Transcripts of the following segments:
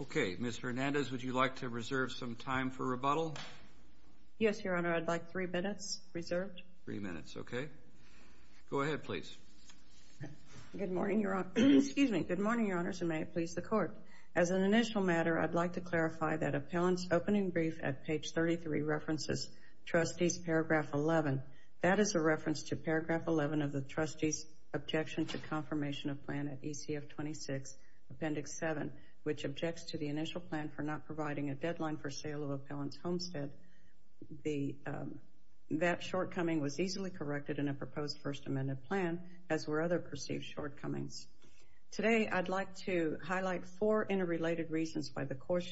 Okay, Ms. Hernandez, would you like to reserve some time for rebuttal? Yes, Your Honor. I'd like three minutes reserved. Three minutes, okay. Go ahead, please. Good morning, Your Honors, and may it please the Court. As an initial matter, I'd like to clarify that Appellant's opening brief at page 33 references Trustees' paragraph 11. That is a reference to paragraph 11 of the Trustees' Objection to Confirmation of Plan at ECF 26, Appendix 7, which objects to the initial plan for not providing a deadline for sale of Appellant's homestead. That shortcoming was easily corrected in a proposed First Amendment plan, as were other perceived shortcomings. Today, I'd like to highlight four interrelated reasons why the Court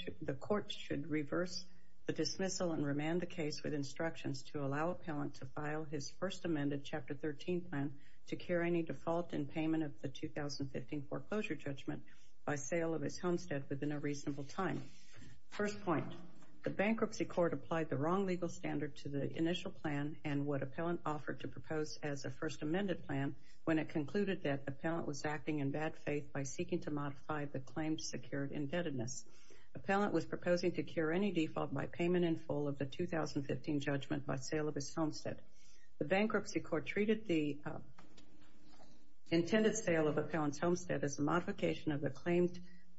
should reverse the dismissal and remand the case with instructions to allow Appellant to file his First Amendment, Chapter 13 plan to cure any default in payment of the 2015 foreclosure judgment by sale of his homestead within a reasonable time. First point, the Bankruptcy Court applied the wrong legal standard to the initial plan and what Appellant offered to propose as a First Amendment plan when it concluded that Appellant was acting in bad faith by seeking to modify the claim's secured indebtedness. Appellant was proposing to cure any default by payment in full of the 2015 judgment by sale of his homestead. The Bankruptcy Court treated the intended sale of Appellant's homestead as a modification of the claimed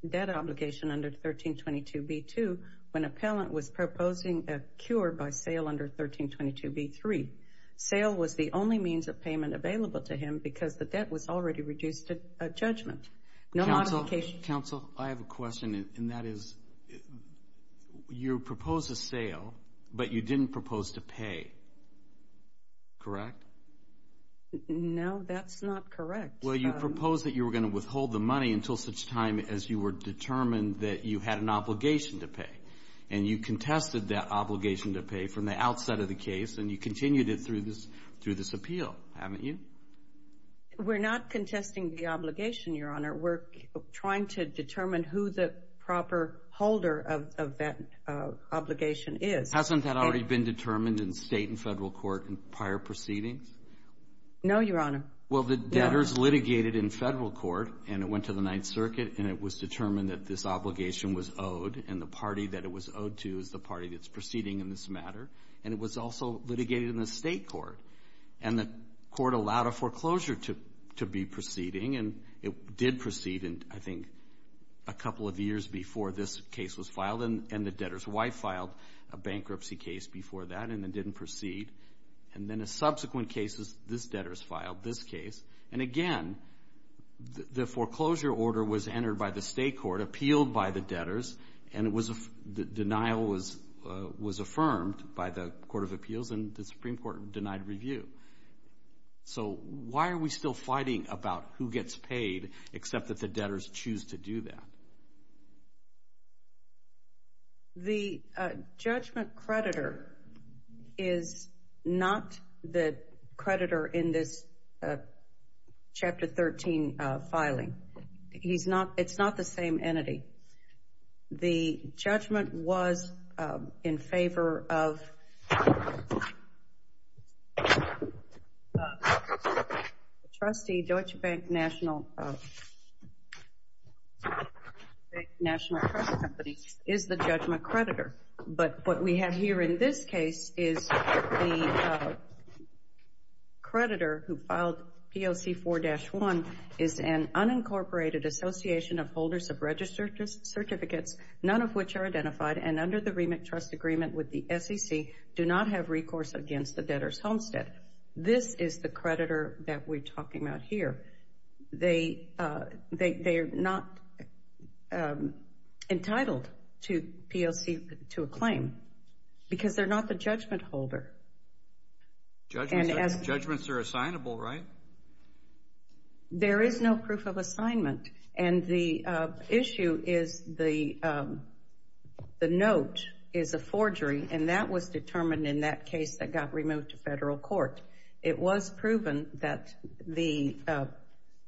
debt obligation under 1322b-2 when Appellant was proposing a cure by sale under 1322b-3. Sale was the only means of payment available to him because the debt was already reduced at judgment. No modification... Counsel, I have a question, and that is, you proposed a sale, but you didn't propose to pay. Correct? No, that's not correct. Well, you proposed that you were going to withhold the money until such time as you were determined that you had an obligation to pay, and you contested that obligation to pay from the outset of the case, and you continued it through this appeal, haven't you? We're not contesting the obligation, Your Honor. We're trying to determine who the proper holder of that obligation is. Hasn't that already been determined in State and Federal court in prior proceedings? No, Your Honor. Well, the debtors litigated in Federal court, and it went to the Ninth Circuit, and it was determined that this obligation was owed, and the party that it was owed to is the party that's proceeding in this matter, and it was also litigated in the State court, and the court allowed a foreclosure to be proceeding, and it did proceed, I think, a couple of years before this case was filed, and the debtor's wife filed a bankruptcy case before that, and it didn't proceed. And then in subsequent cases, this debtor's filed this case, and again, the foreclosure order was entered by the State court, appealed by the debtors, and the denial was affirmed by the Court of Appeals, and the Supreme Court denied review. So why are we still fighting about who gets paid, except that the debtors choose to do that? The judgment creditor is not the creditor in this Chapter 13 filing. It's not the same entity. The judgment was in favor of the trustee, Deutsche Bank National Trust Company, is the judgment creditor. But what we have here in this case is the creditor who filed POC 4-1 is an unincorporated association of holders of registered certificates, none of which are identified, and under the remit trust agreement with the SEC, do not have recourse against the debtor's homestead. This is the creditor that we're talking about here. They are not entitled to POC to a claim because they're not the judgment holder. Judgments are assignable, right? There is no proof of assignment. And the issue is the note is a forgery, and that was determined in that case that got removed to federal court. It was proven that the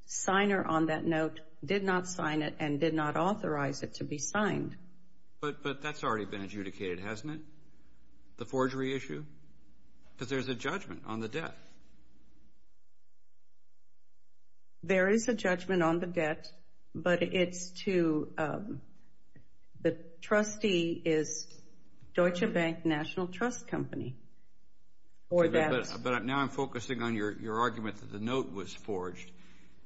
signer on that note did not sign it and did not authorize it to be signed. But that's already been adjudicated, hasn't it, the forgery issue? Because there's a judgment on the debt. There is a judgment on the debt, but the trustee is Deutsche Bank National Trust Company. But now I'm focusing on your argument that the note was forged.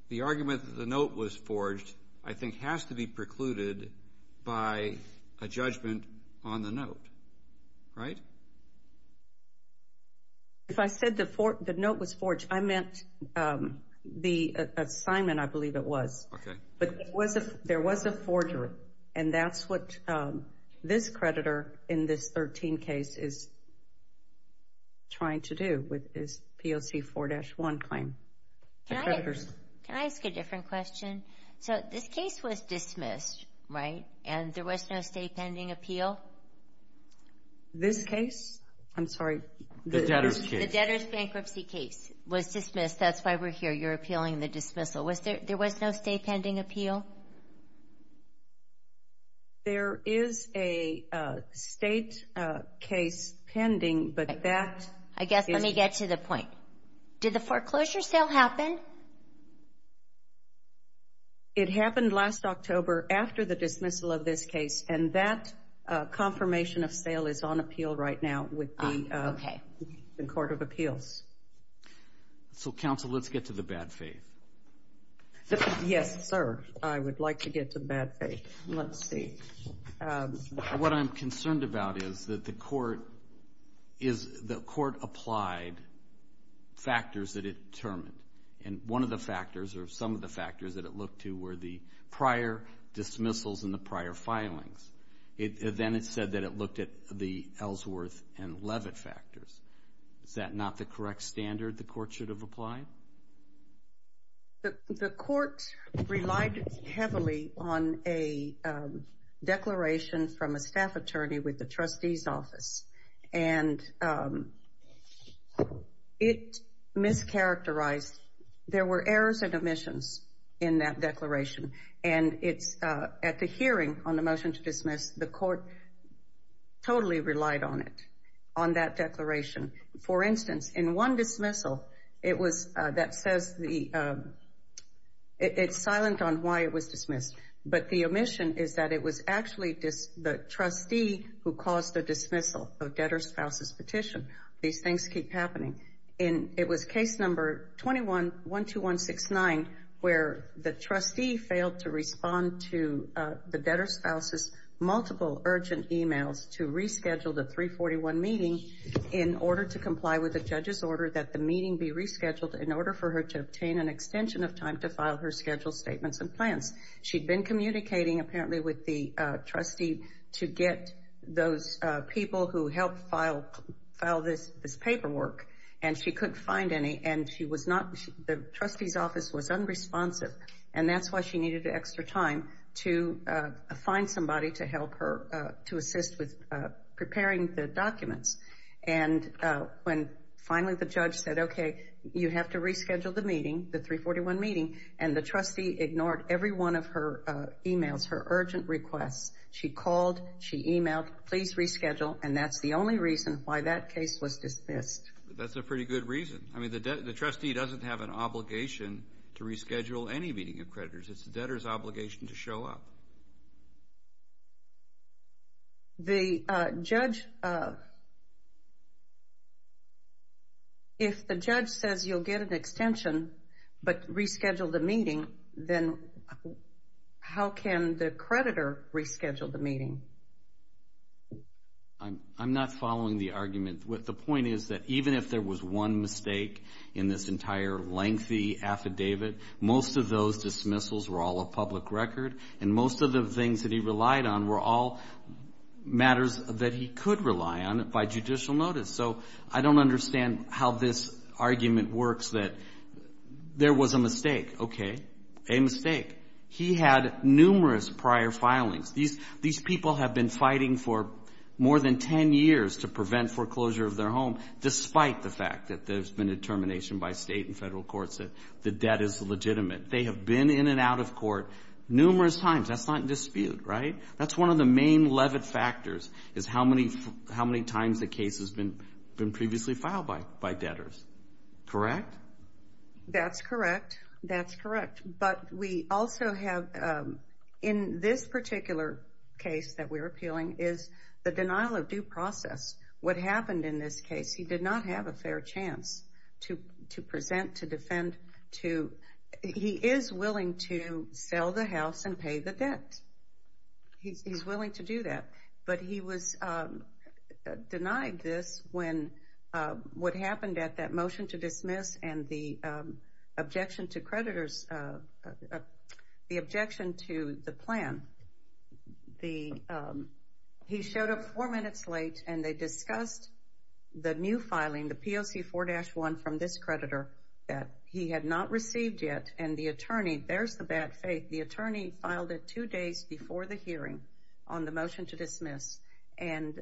The argument that the note was forged, I think, has to be precluded by a judgment on the note, right? If I said the note was forged, I meant the assignment, I believe it was. But there was a forgery, and that's what this creditor in this 13 case is trying to do with his POC 4-1 claim. Can I ask a different question? So this case was dismissed, right, and there was no state pending appeal? This case? I'm sorry. The debtor's case. The debtor's bankruptcy case was dismissed. That's why we're here. You're appealing the dismissal. There was no state pending appeal? There is a state case pending, but that is— I guess let me get to the point. Did the foreclosure sale happen? It happened last October after the dismissal of this case, and that confirmation of sale is on appeal right now with the Court of Appeals. So, counsel, let's get to the bad faith. Yes, sir. I would like to get to the bad faith. Let's see. What I'm concerned about is that the court applied factors that it determined, and one of the factors or some of the factors that it looked to were the prior dismissals and the prior filings. Then it said that it looked at the Ellsworth and Levitt factors. Is that not the correct standard the court should have applied? The court relied heavily on a declaration from a staff attorney with the trustee's office, and it mischaracterized. There were errors and omissions in that declaration, and at the hearing on the motion to dismiss, the court totally relied on it, on that declaration. For instance, in one dismissal, it's silent on why it was dismissed, but the omission is that it was actually the trustee who caused the dismissal of debtor's spouse's petition. These things keep happening. It was case number 12169 where the trustee failed to respond to the debtor's spouse's to reschedule the 341 meeting in order to comply with the judge's order that the meeting be rescheduled in order for her to obtain an extension of time to file her scheduled statements and plans. She'd been communicating apparently with the trustee to get those people who helped file this paperwork, and she couldn't find any, and the trustee's office was unresponsive, and that's why she needed extra time to find somebody to help her, to assist with preparing the documents. And when finally the judge said, okay, you have to reschedule the meeting, the 341 meeting, and the trustee ignored every one of her emails, her urgent requests. She called, she emailed, please reschedule, and that's the only reason why that case was dismissed. That's a pretty good reason. I mean, the trustee doesn't have an obligation to reschedule any meeting of creditors. It's the debtor's obligation to show up. The judge, if the judge says you'll get an extension but reschedule the meeting, then how can the creditor reschedule the meeting? I'm not following the argument. The point is that even if there was one mistake in this entire lengthy affidavit, most of those dismissals were all of public record, and most of the things that he relied on were all matters that he could rely on by judicial notice. So I don't understand how this argument works that there was a mistake. Okay, a mistake. He had numerous prior filings. These people have been fighting for more than 10 years to prevent foreclosure of their home, despite the fact that there's been a termination by state and federal courts that the debt is legitimate. They have been in and out of court numerous times. That's not in dispute, right? That's one of the main levit factors is how many times the case has been previously filed by debtors. Correct? That's correct. That's correct. But we also have in this particular case that we're appealing is the denial of due process. What happened in this case, he did not have a fair chance to present, to defend. He is willing to sell the house and pay the debt. He's willing to do that, but he was denied this when what happened at that motion to dismiss and the objection to the plan, he showed up four minutes late, and they discussed the new filing, the POC 4-1 from this creditor that he had not received yet. And the attorney, there's the bad faith. The attorney filed it two days before the hearing on the motion to dismiss, and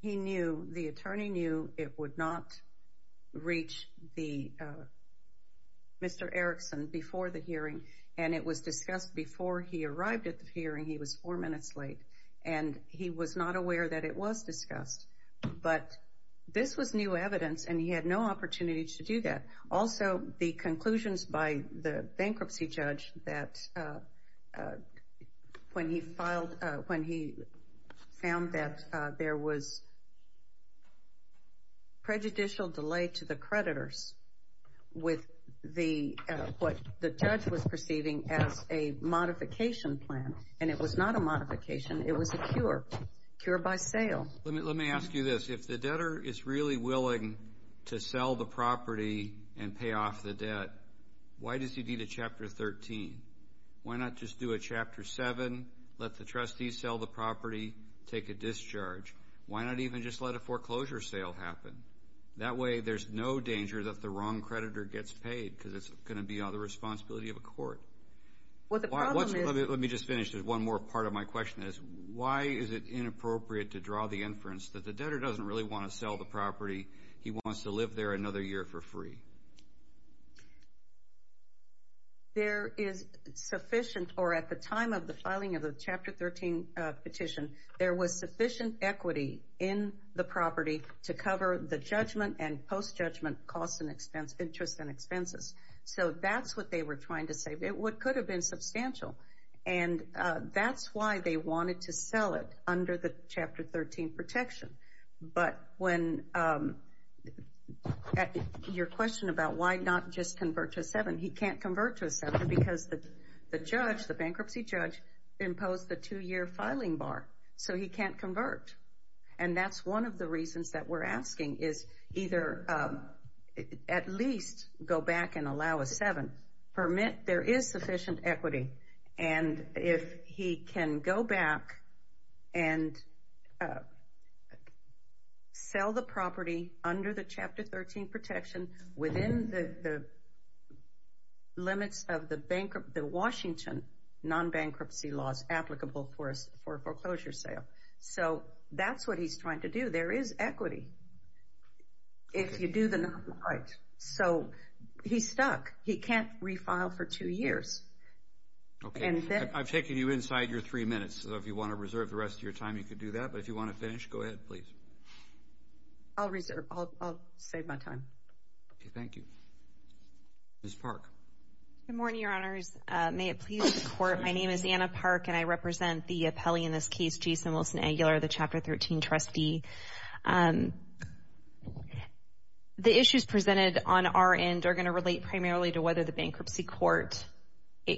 he knew, the attorney knew it would not reach Mr. Erickson before the hearing, and it was discussed before he arrived at the hearing. He was four minutes late, and he was not aware that it was discussed. But this was new evidence, and he had no opportunity to do that. Also, the conclusions by the bankruptcy judge that when he filed, when he found that there was prejudicial delay to the creditors with what the judge was perceiving as a modification plan, and it was not a modification, it was a cure, cure by sale. Let me ask you this. If the debtor is really willing to sell the property and pay off the debt, why does he need a Chapter 13? Why not just do a Chapter 7, let the trustees sell the property, take a discharge? Why not even just let a foreclosure sale happen? That way there's no danger that the wrong creditor gets paid because it's going to be on the responsibility of a court. Let me just finish. One more part of my question is why is it inappropriate to draw the inference that the debtor doesn't really want to sell the property. He wants to live there another year for free. There is sufficient, or at the time of the filing of the Chapter 13 petition, there was sufficient equity in the property to cover the judgment and post-judgment costs and expenses, interests and expenses. So that's what they were trying to say. It could have been substantial. And that's why they wanted to sell it under the Chapter 13 protection. But when your question about why not just convert to a 7, he can't convert to a 7 because the judge, the bankruptcy judge, imposed the two-year filing bar. So he can't convert. And that's one of the reasons that we're asking is either at least go back and allow a 7, permit there is sufficient equity, and if he can go back and sell the property under the Chapter 13 protection within the limits of the Washington non-bankruptcy laws applicable for a foreclosure sale. So that's what he's trying to do. There is equity if you do the right. So he's stuck. He can't refile for two years. Okay. I've taken you inside your three minutes. So if you want to reserve the rest of your time, you can do that. But if you want to finish, go ahead, please. I'll reserve. I'll save my time. Okay. Thank you. Ms. Park. Good morning, Your Honors. May it please the Court, my name is Anna Park, and I represent the appellee in this case, Jason Wilson Aguilar, the Chapter 13 trustee. The issues presented on our end are going to relate primarily to whether the bankruptcy court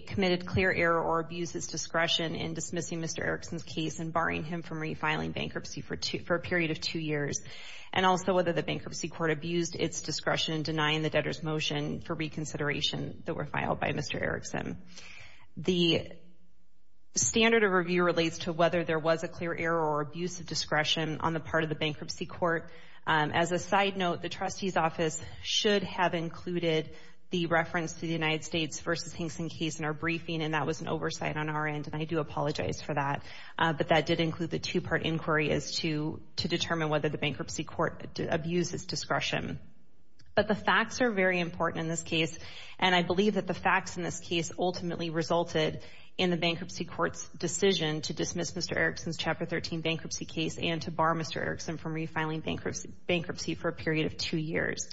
committed clear error or abused its discretion in dismissing Mr. Erickson's case and barring him from refiling bankruptcy for a period of two years, and also whether the bankruptcy court abused its discretion in denying the debtor's motion for reconsideration that were filed by Mr. Erickson. The standard of review relates to whether there was a clear error or abuse of discretion on the part of the bankruptcy court. As a side note, the trustee's office should have included the reference to the United States versus Hinkson case in our briefing, and that was an oversight on our end, and I do apologize for that. But that did include the two-part inquiry as to determine whether the bankruptcy court abused its discretion. But the facts are very important in this case, and I believe that the facts in this case ultimately resulted in the bankruptcy court's decision to dismiss Mr. Erickson's Chapter 13 bankruptcy case and to bar Mr. Erickson from refiling bankruptcy for a period of two years.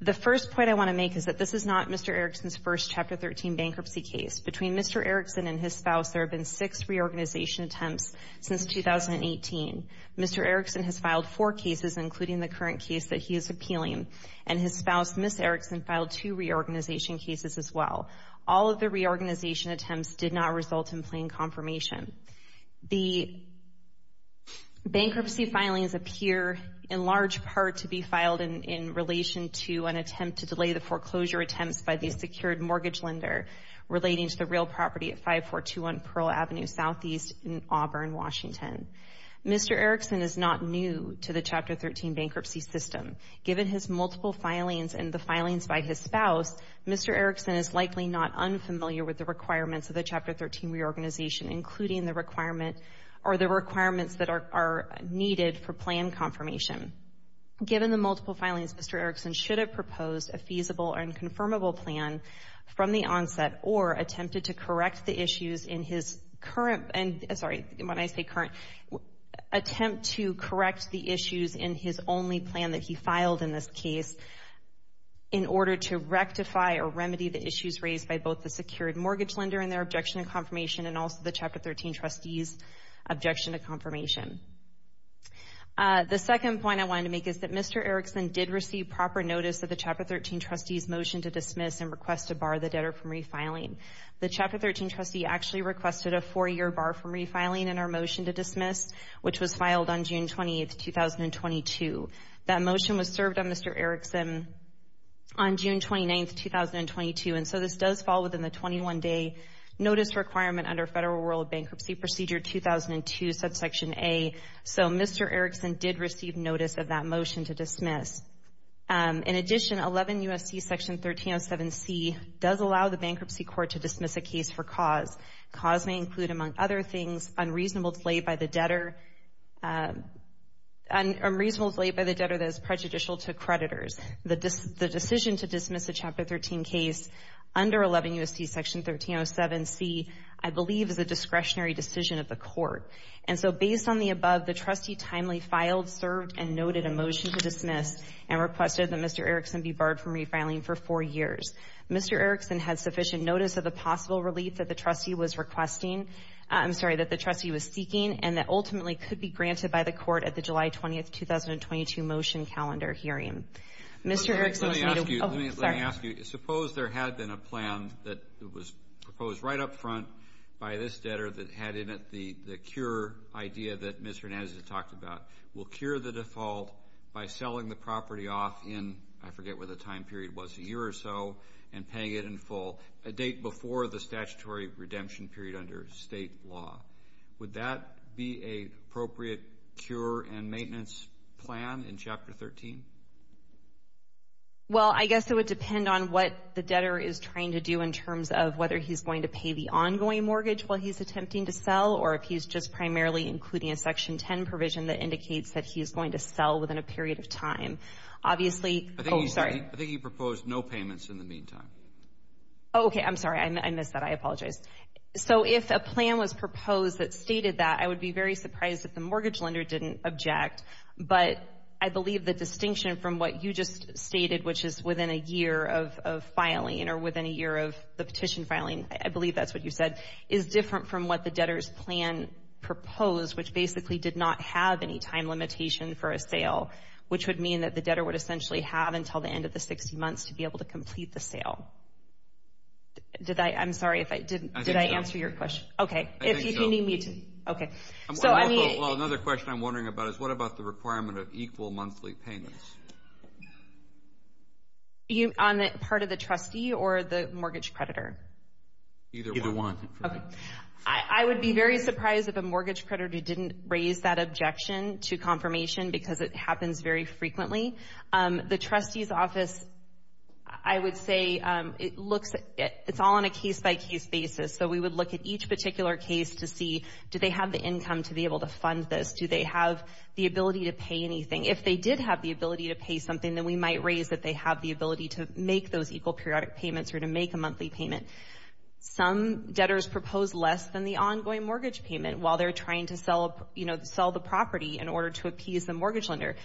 The first point I want to make is that this is not Mr. Erickson's first Chapter 13 bankruptcy case. Between Mr. Erickson and his spouse, there have been six reorganization attempts since 2018. Mr. Erickson has filed four cases, including the current case that he is appealing, and his spouse, Ms. Erickson, filed two reorganization cases as well. All of the reorganization attempts did not result in plain confirmation. The bankruptcy filings appear in large part to be filed in relation to an attempt to delay the foreclosure attempts by the secured mortgage lender relating to the real property at 5421 Pearl Avenue Southeast in Auburn, Washington. Mr. Erickson is not new to the Chapter 13 bankruptcy system. Given his multiple filings and the filings by his spouse, Mr. Erickson is likely not unfamiliar with the requirements of the Chapter 13 reorganization, including the requirements that are needed for plan confirmation. Given the multiple filings, Mr. Erickson should have proposed a feasible and confirmable plan from the onset or attempted to correct the issues in his only plan that he filed in this case in order to rectify or remedy the issues raised by both the secured mortgage lender and their objection to confirmation, and also the Chapter 13 trustee's objection to confirmation. The second point I wanted to make is that Mr. Erickson did receive proper notice of the Chapter 13 trustee's motion to dismiss and request to bar the debtor from refiling. The Chapter 13 trustee actually requested a four-year bar from refiling in our motion to dismiss, which was filed on June 28, 2022. That motion was served on Mr. Erickson on June 29, 2022, and so this does fall within the 21-day notice requirement under Federal Rural Bankruptcy Procedure 2002, subsection A. So Mr. Erickson did receive notice of that motion to dismiss. In addition, 11 U.S.C. Section 1307C does allow the bankruptcy court to dismiss a case for cause. Cause may include, among other things, unreasonableness laid by the debtor that is prejudicial to creditors. The decision to dismiss a Chapter 13 case under 11 U.S.C. Section 1307C, I believe, is a discretionary decision of the court. And so based on the above, the trustee timely filed, served, and noted a motion to dismiss and requested that Mr. Erickson be barred from refiling for four years. Mr. Erickson had sufficient notice of the possible relief that the trustee was requesting, I'm sorry, that the trustee was seeking, and that ultimately could be granted by the court at the July 20, 2022 motion calendar hearing. Mr. Erickson was made- Let me ask you, let me ask you. Suppose there had been a plan that was proposed right up front by this debtor that had in it the cure idea that Ms. Hernandez had talked about. Will cure the default by selling the property off in, I forget what the time period was, a year or so, and paying it in full a date before the statutory redemption period under state law. Would that be an appropriate cure and maintenance plan in Chapter 13? Well, I guess it would depend on what the debtor is trying to do in terms of whether he's going to pay the ongoing mortgage while he's attempting to sell, or if he's just primarily including a Section 10 provision that indicates that he's going to sell within a period of time. Obviously- I think he proposed no payments in the meantime. Oh, okay. I'm sorry. I missed that. I apologize. So if a plan was proposed that stated that, I would be very surprised if the mortgage lender didn't object. But I believe the distinction from what you just stated, which is within a year of filing or within a year of the petition filing, I believe that's what you said, is different from what the debtor's plan proposed, which basically did not have any time limitation for a sale, which would mean that the debtor would essentially have until the end of the 60 months to be able to complete the sale. I'm sorry, did I answer your question? I think so. Okay. Well, another question I'm wondering about is what about the requirement of equal monthly payments? On the part of the trustee or the mortgage creditor? Either one. Okay. I would be very surprised if a mortgage creditor didn't raise that objection to confirmation because it happens very frequently. The trustee's office, I would say, it's all on a case-by-case basis. So we would look at each particular case to see, do they have the income to be able to fund this? Do they have the ability to pay anything? If they did have the ability to pay something, then we might raise that they have the ability to make those equal periodic payments or to make a monthly payment. Some debtors propose less than the ongoing mortgage payment while they're trying to sell the property in order to appease the mortgage lender.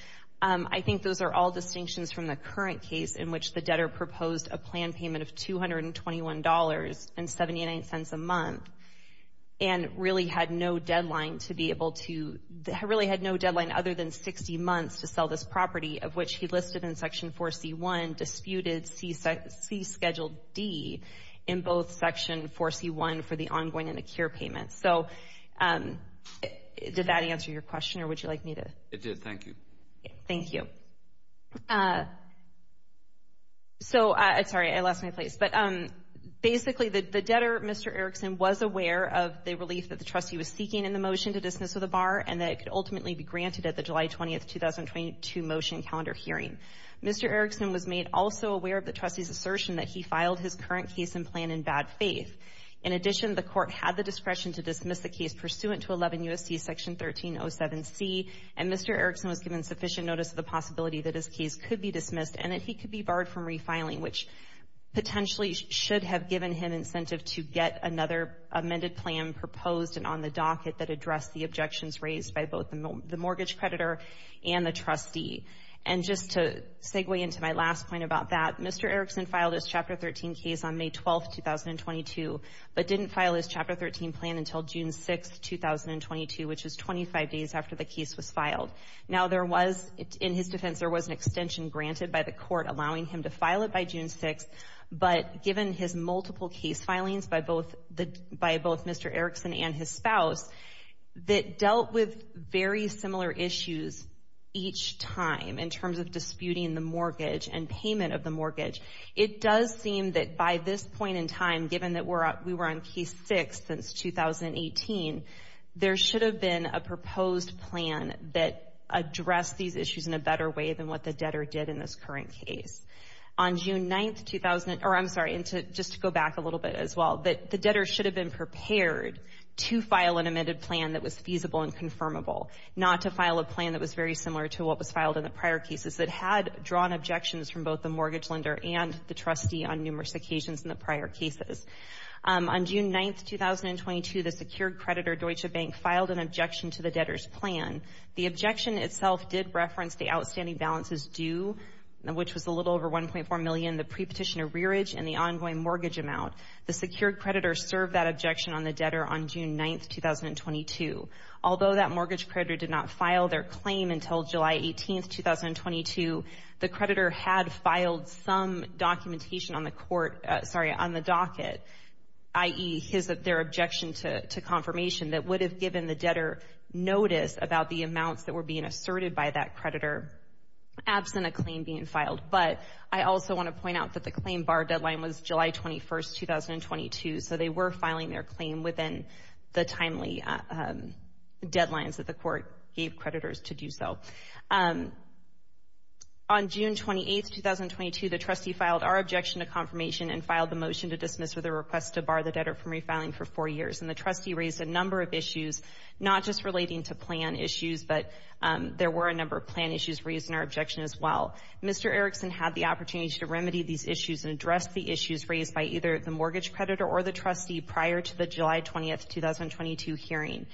I think those are all distinctions from the current case in which the debtor proposed a plan payment of $221.79 a month and really had no deadline other than 60 months to sell this property, of which he listed in Section 4C1, disputed C Schedule D in both Section 4C1 for the ongoing and ACURE payments. So did that answer your question or would you like me to? It did. Thank you. Thank you. So, sorry, I lost my place. But basically, the debtor, Mr. Erickson, was aware of the relief that the trustee was seeking in the motion to dismiss with a bar and that it could ultimately be granted at the July 20, 2022 motion calendar hearing. Mr. Erickson was made also aware of the trustee's assertion that he filed his current case and plan in bad faith. In addition, the court had the discretion to dismiss the case pursuant to 11 U.S.C. Section 1307C, and Mr. Erickson was given sufficient notice of the possibility that his case could be dismissed and that he could be barred from refiling, which potentially should have given him incentive to get another amended plan proposed and on the docket that addressed the objections raised by both the mortgage creditor and the trustee. And just to segue into my last point about that, Mr. Erickson filed his Chapter 13 case on May 12, 2022, but didn't file his Chapter 13 plan until June 6, 2022, which is 25 days after the case was filed. Now, there was, in his defense, there was an extension granted by the court allowing him to file it by June 6, but given his multiple case filings by both Mr. Erickson and his spouse that dealt with very similar issues each time in terms of disputing the mortgage and payment of the mortgage, it does seem that by this point in time, given that we were on case 6 since 2018, there should have been a proposed plan that addressed these issues in a better way than what the debtor did in this current case. On June 9, or I'm sorry, just to go back a little bit as well, that the debtor should have been prepared to file an amended plan that was feasible and confirmable, not to file a plan that was very similar to what was filed in the prior cases that had drawn objections from both the mortgage lender and the trustee on numerous occasions in the prior cases. On June 9, 2022, the secured creditor Deutsche Bank filed an objection to the debtor's plan. The objection itself did reference the outstanding balances due, which was a little over $1.4 million, the prepetition of rearage, and the ongoing mortgage amount. The secured creditor served that objection on the debtor on June 9, 2022. Although that mortgage creditor did not file their claim until July 18, 2022, the creditor had filed some documentation on the court, sorry, on the docket, i.e., their objection to confirmation that would have given the debtor notice about the amounts that were being asserted by that creditor, absent a claim being filed. But I also want to point out that the claim bar deadline was July 21, 2022, so they were filing their claim within the timely deadlines that the court gave creditors to do so. On June 28, 2022, the trustee filed our objection to confirmation and filed the motion to dismiss with a request to bar the debtor from refiling for four years. And the trustee raised a number of issues, not just relating to plan issues, but there were a number of plan issues raised in our objection as well. Mr. Erickson had the opportunity to remedy these issues and address the issues raised by either the mortgage creditor or the trustee prior to the July 20, 2022 hearing.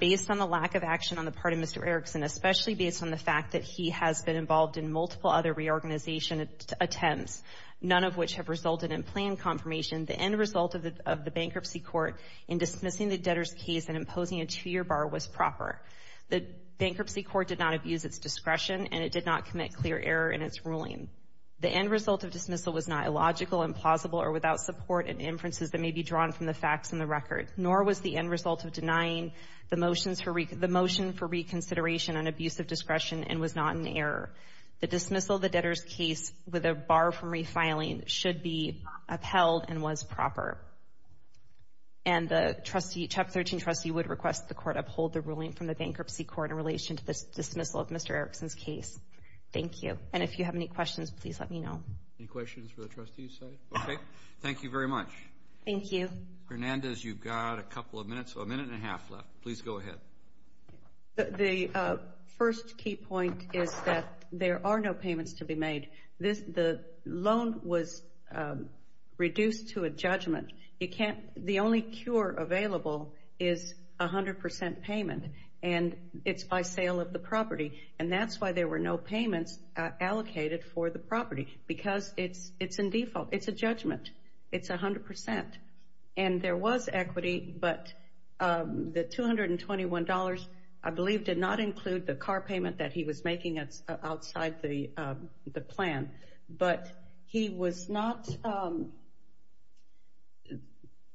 Based on the lack of action on the part of Mr. Erickson, especially based on the fact that he has been involved in multiple other reorganization attempts, none of which have resulted in plan confirmation, the end result of the bankruptcy court in dismissing the debtor's case and imposing a two-year bar was proper. The bankruptcy court did not abuse its discretion and it did not commit clear error in its ruling. The end result of dismissal was not illogical, implausible, or without support in inferences that may be drawn from the facts in the record, nor was the end result of denying the motion for reconsideration an abuse of discretion and was not an error. The dismissal of the debtor's case with a bar from refiling should be upheld and was proper. And the Chapter 13 trustee would request the court uphold the ruling from the bankruptcy court in relation to the dismissal of Mr. Erickson's case. Thank you. And if you have any questions, please let me know. Any questions for the trustees side? Okay. Thank you very much. Thank you. Hernandez, you've got a couple of minutes, a minute and a half left. Please go ahead. The first key point is that there are no payments to be made. The loan was reduced to a judgment. The only cure available is 100 percent payment, and it's by sale of the property. And that's why there were no payments allocated for the property, because it's in default. It's a judgment. It's 100 percent. And there was equity, but the $221, I believe, did not include the car payment that he was making outside the plan. But he was not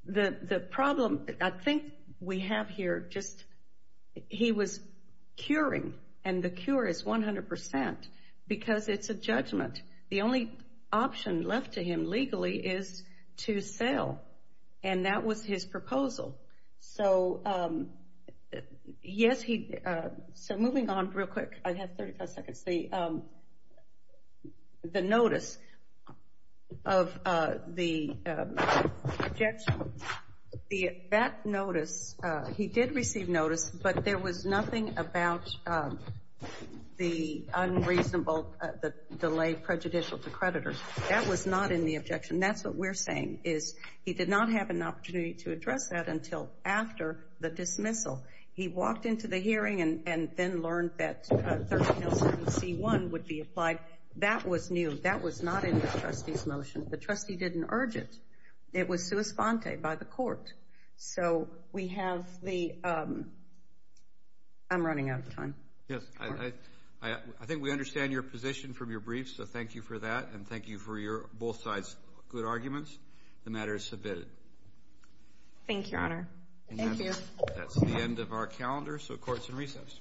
the problem. I think we have here just he was curing, and the cure is 100 percent, because it's a judgment. The only option left to him legally is to sell, and that was his proposal. So, yes, so moving on real quick. I have 35 seconds. The notice of the objection, that notice, he did receive notice, but there was nothing about the unreasonable delay prejudicial to creditors. That was not in the objection. That's what we're saying is he did not have an opportunity to address that until after the dismissal. He walked into the hearing and then learned that 1307C1 would be applied. That was new. That was not in the trustee's motion. The trustee didn't urge it. It was sua sponte by the court. So we have the I'm running out of time. Yes, I think we understand your position from your briefs, so thank you for that, and thank you for both sides' good arguments. The matter is submitted. Thank you, Your Honor. Thank you. That's the end of our calendar, so courts in recess. All rise.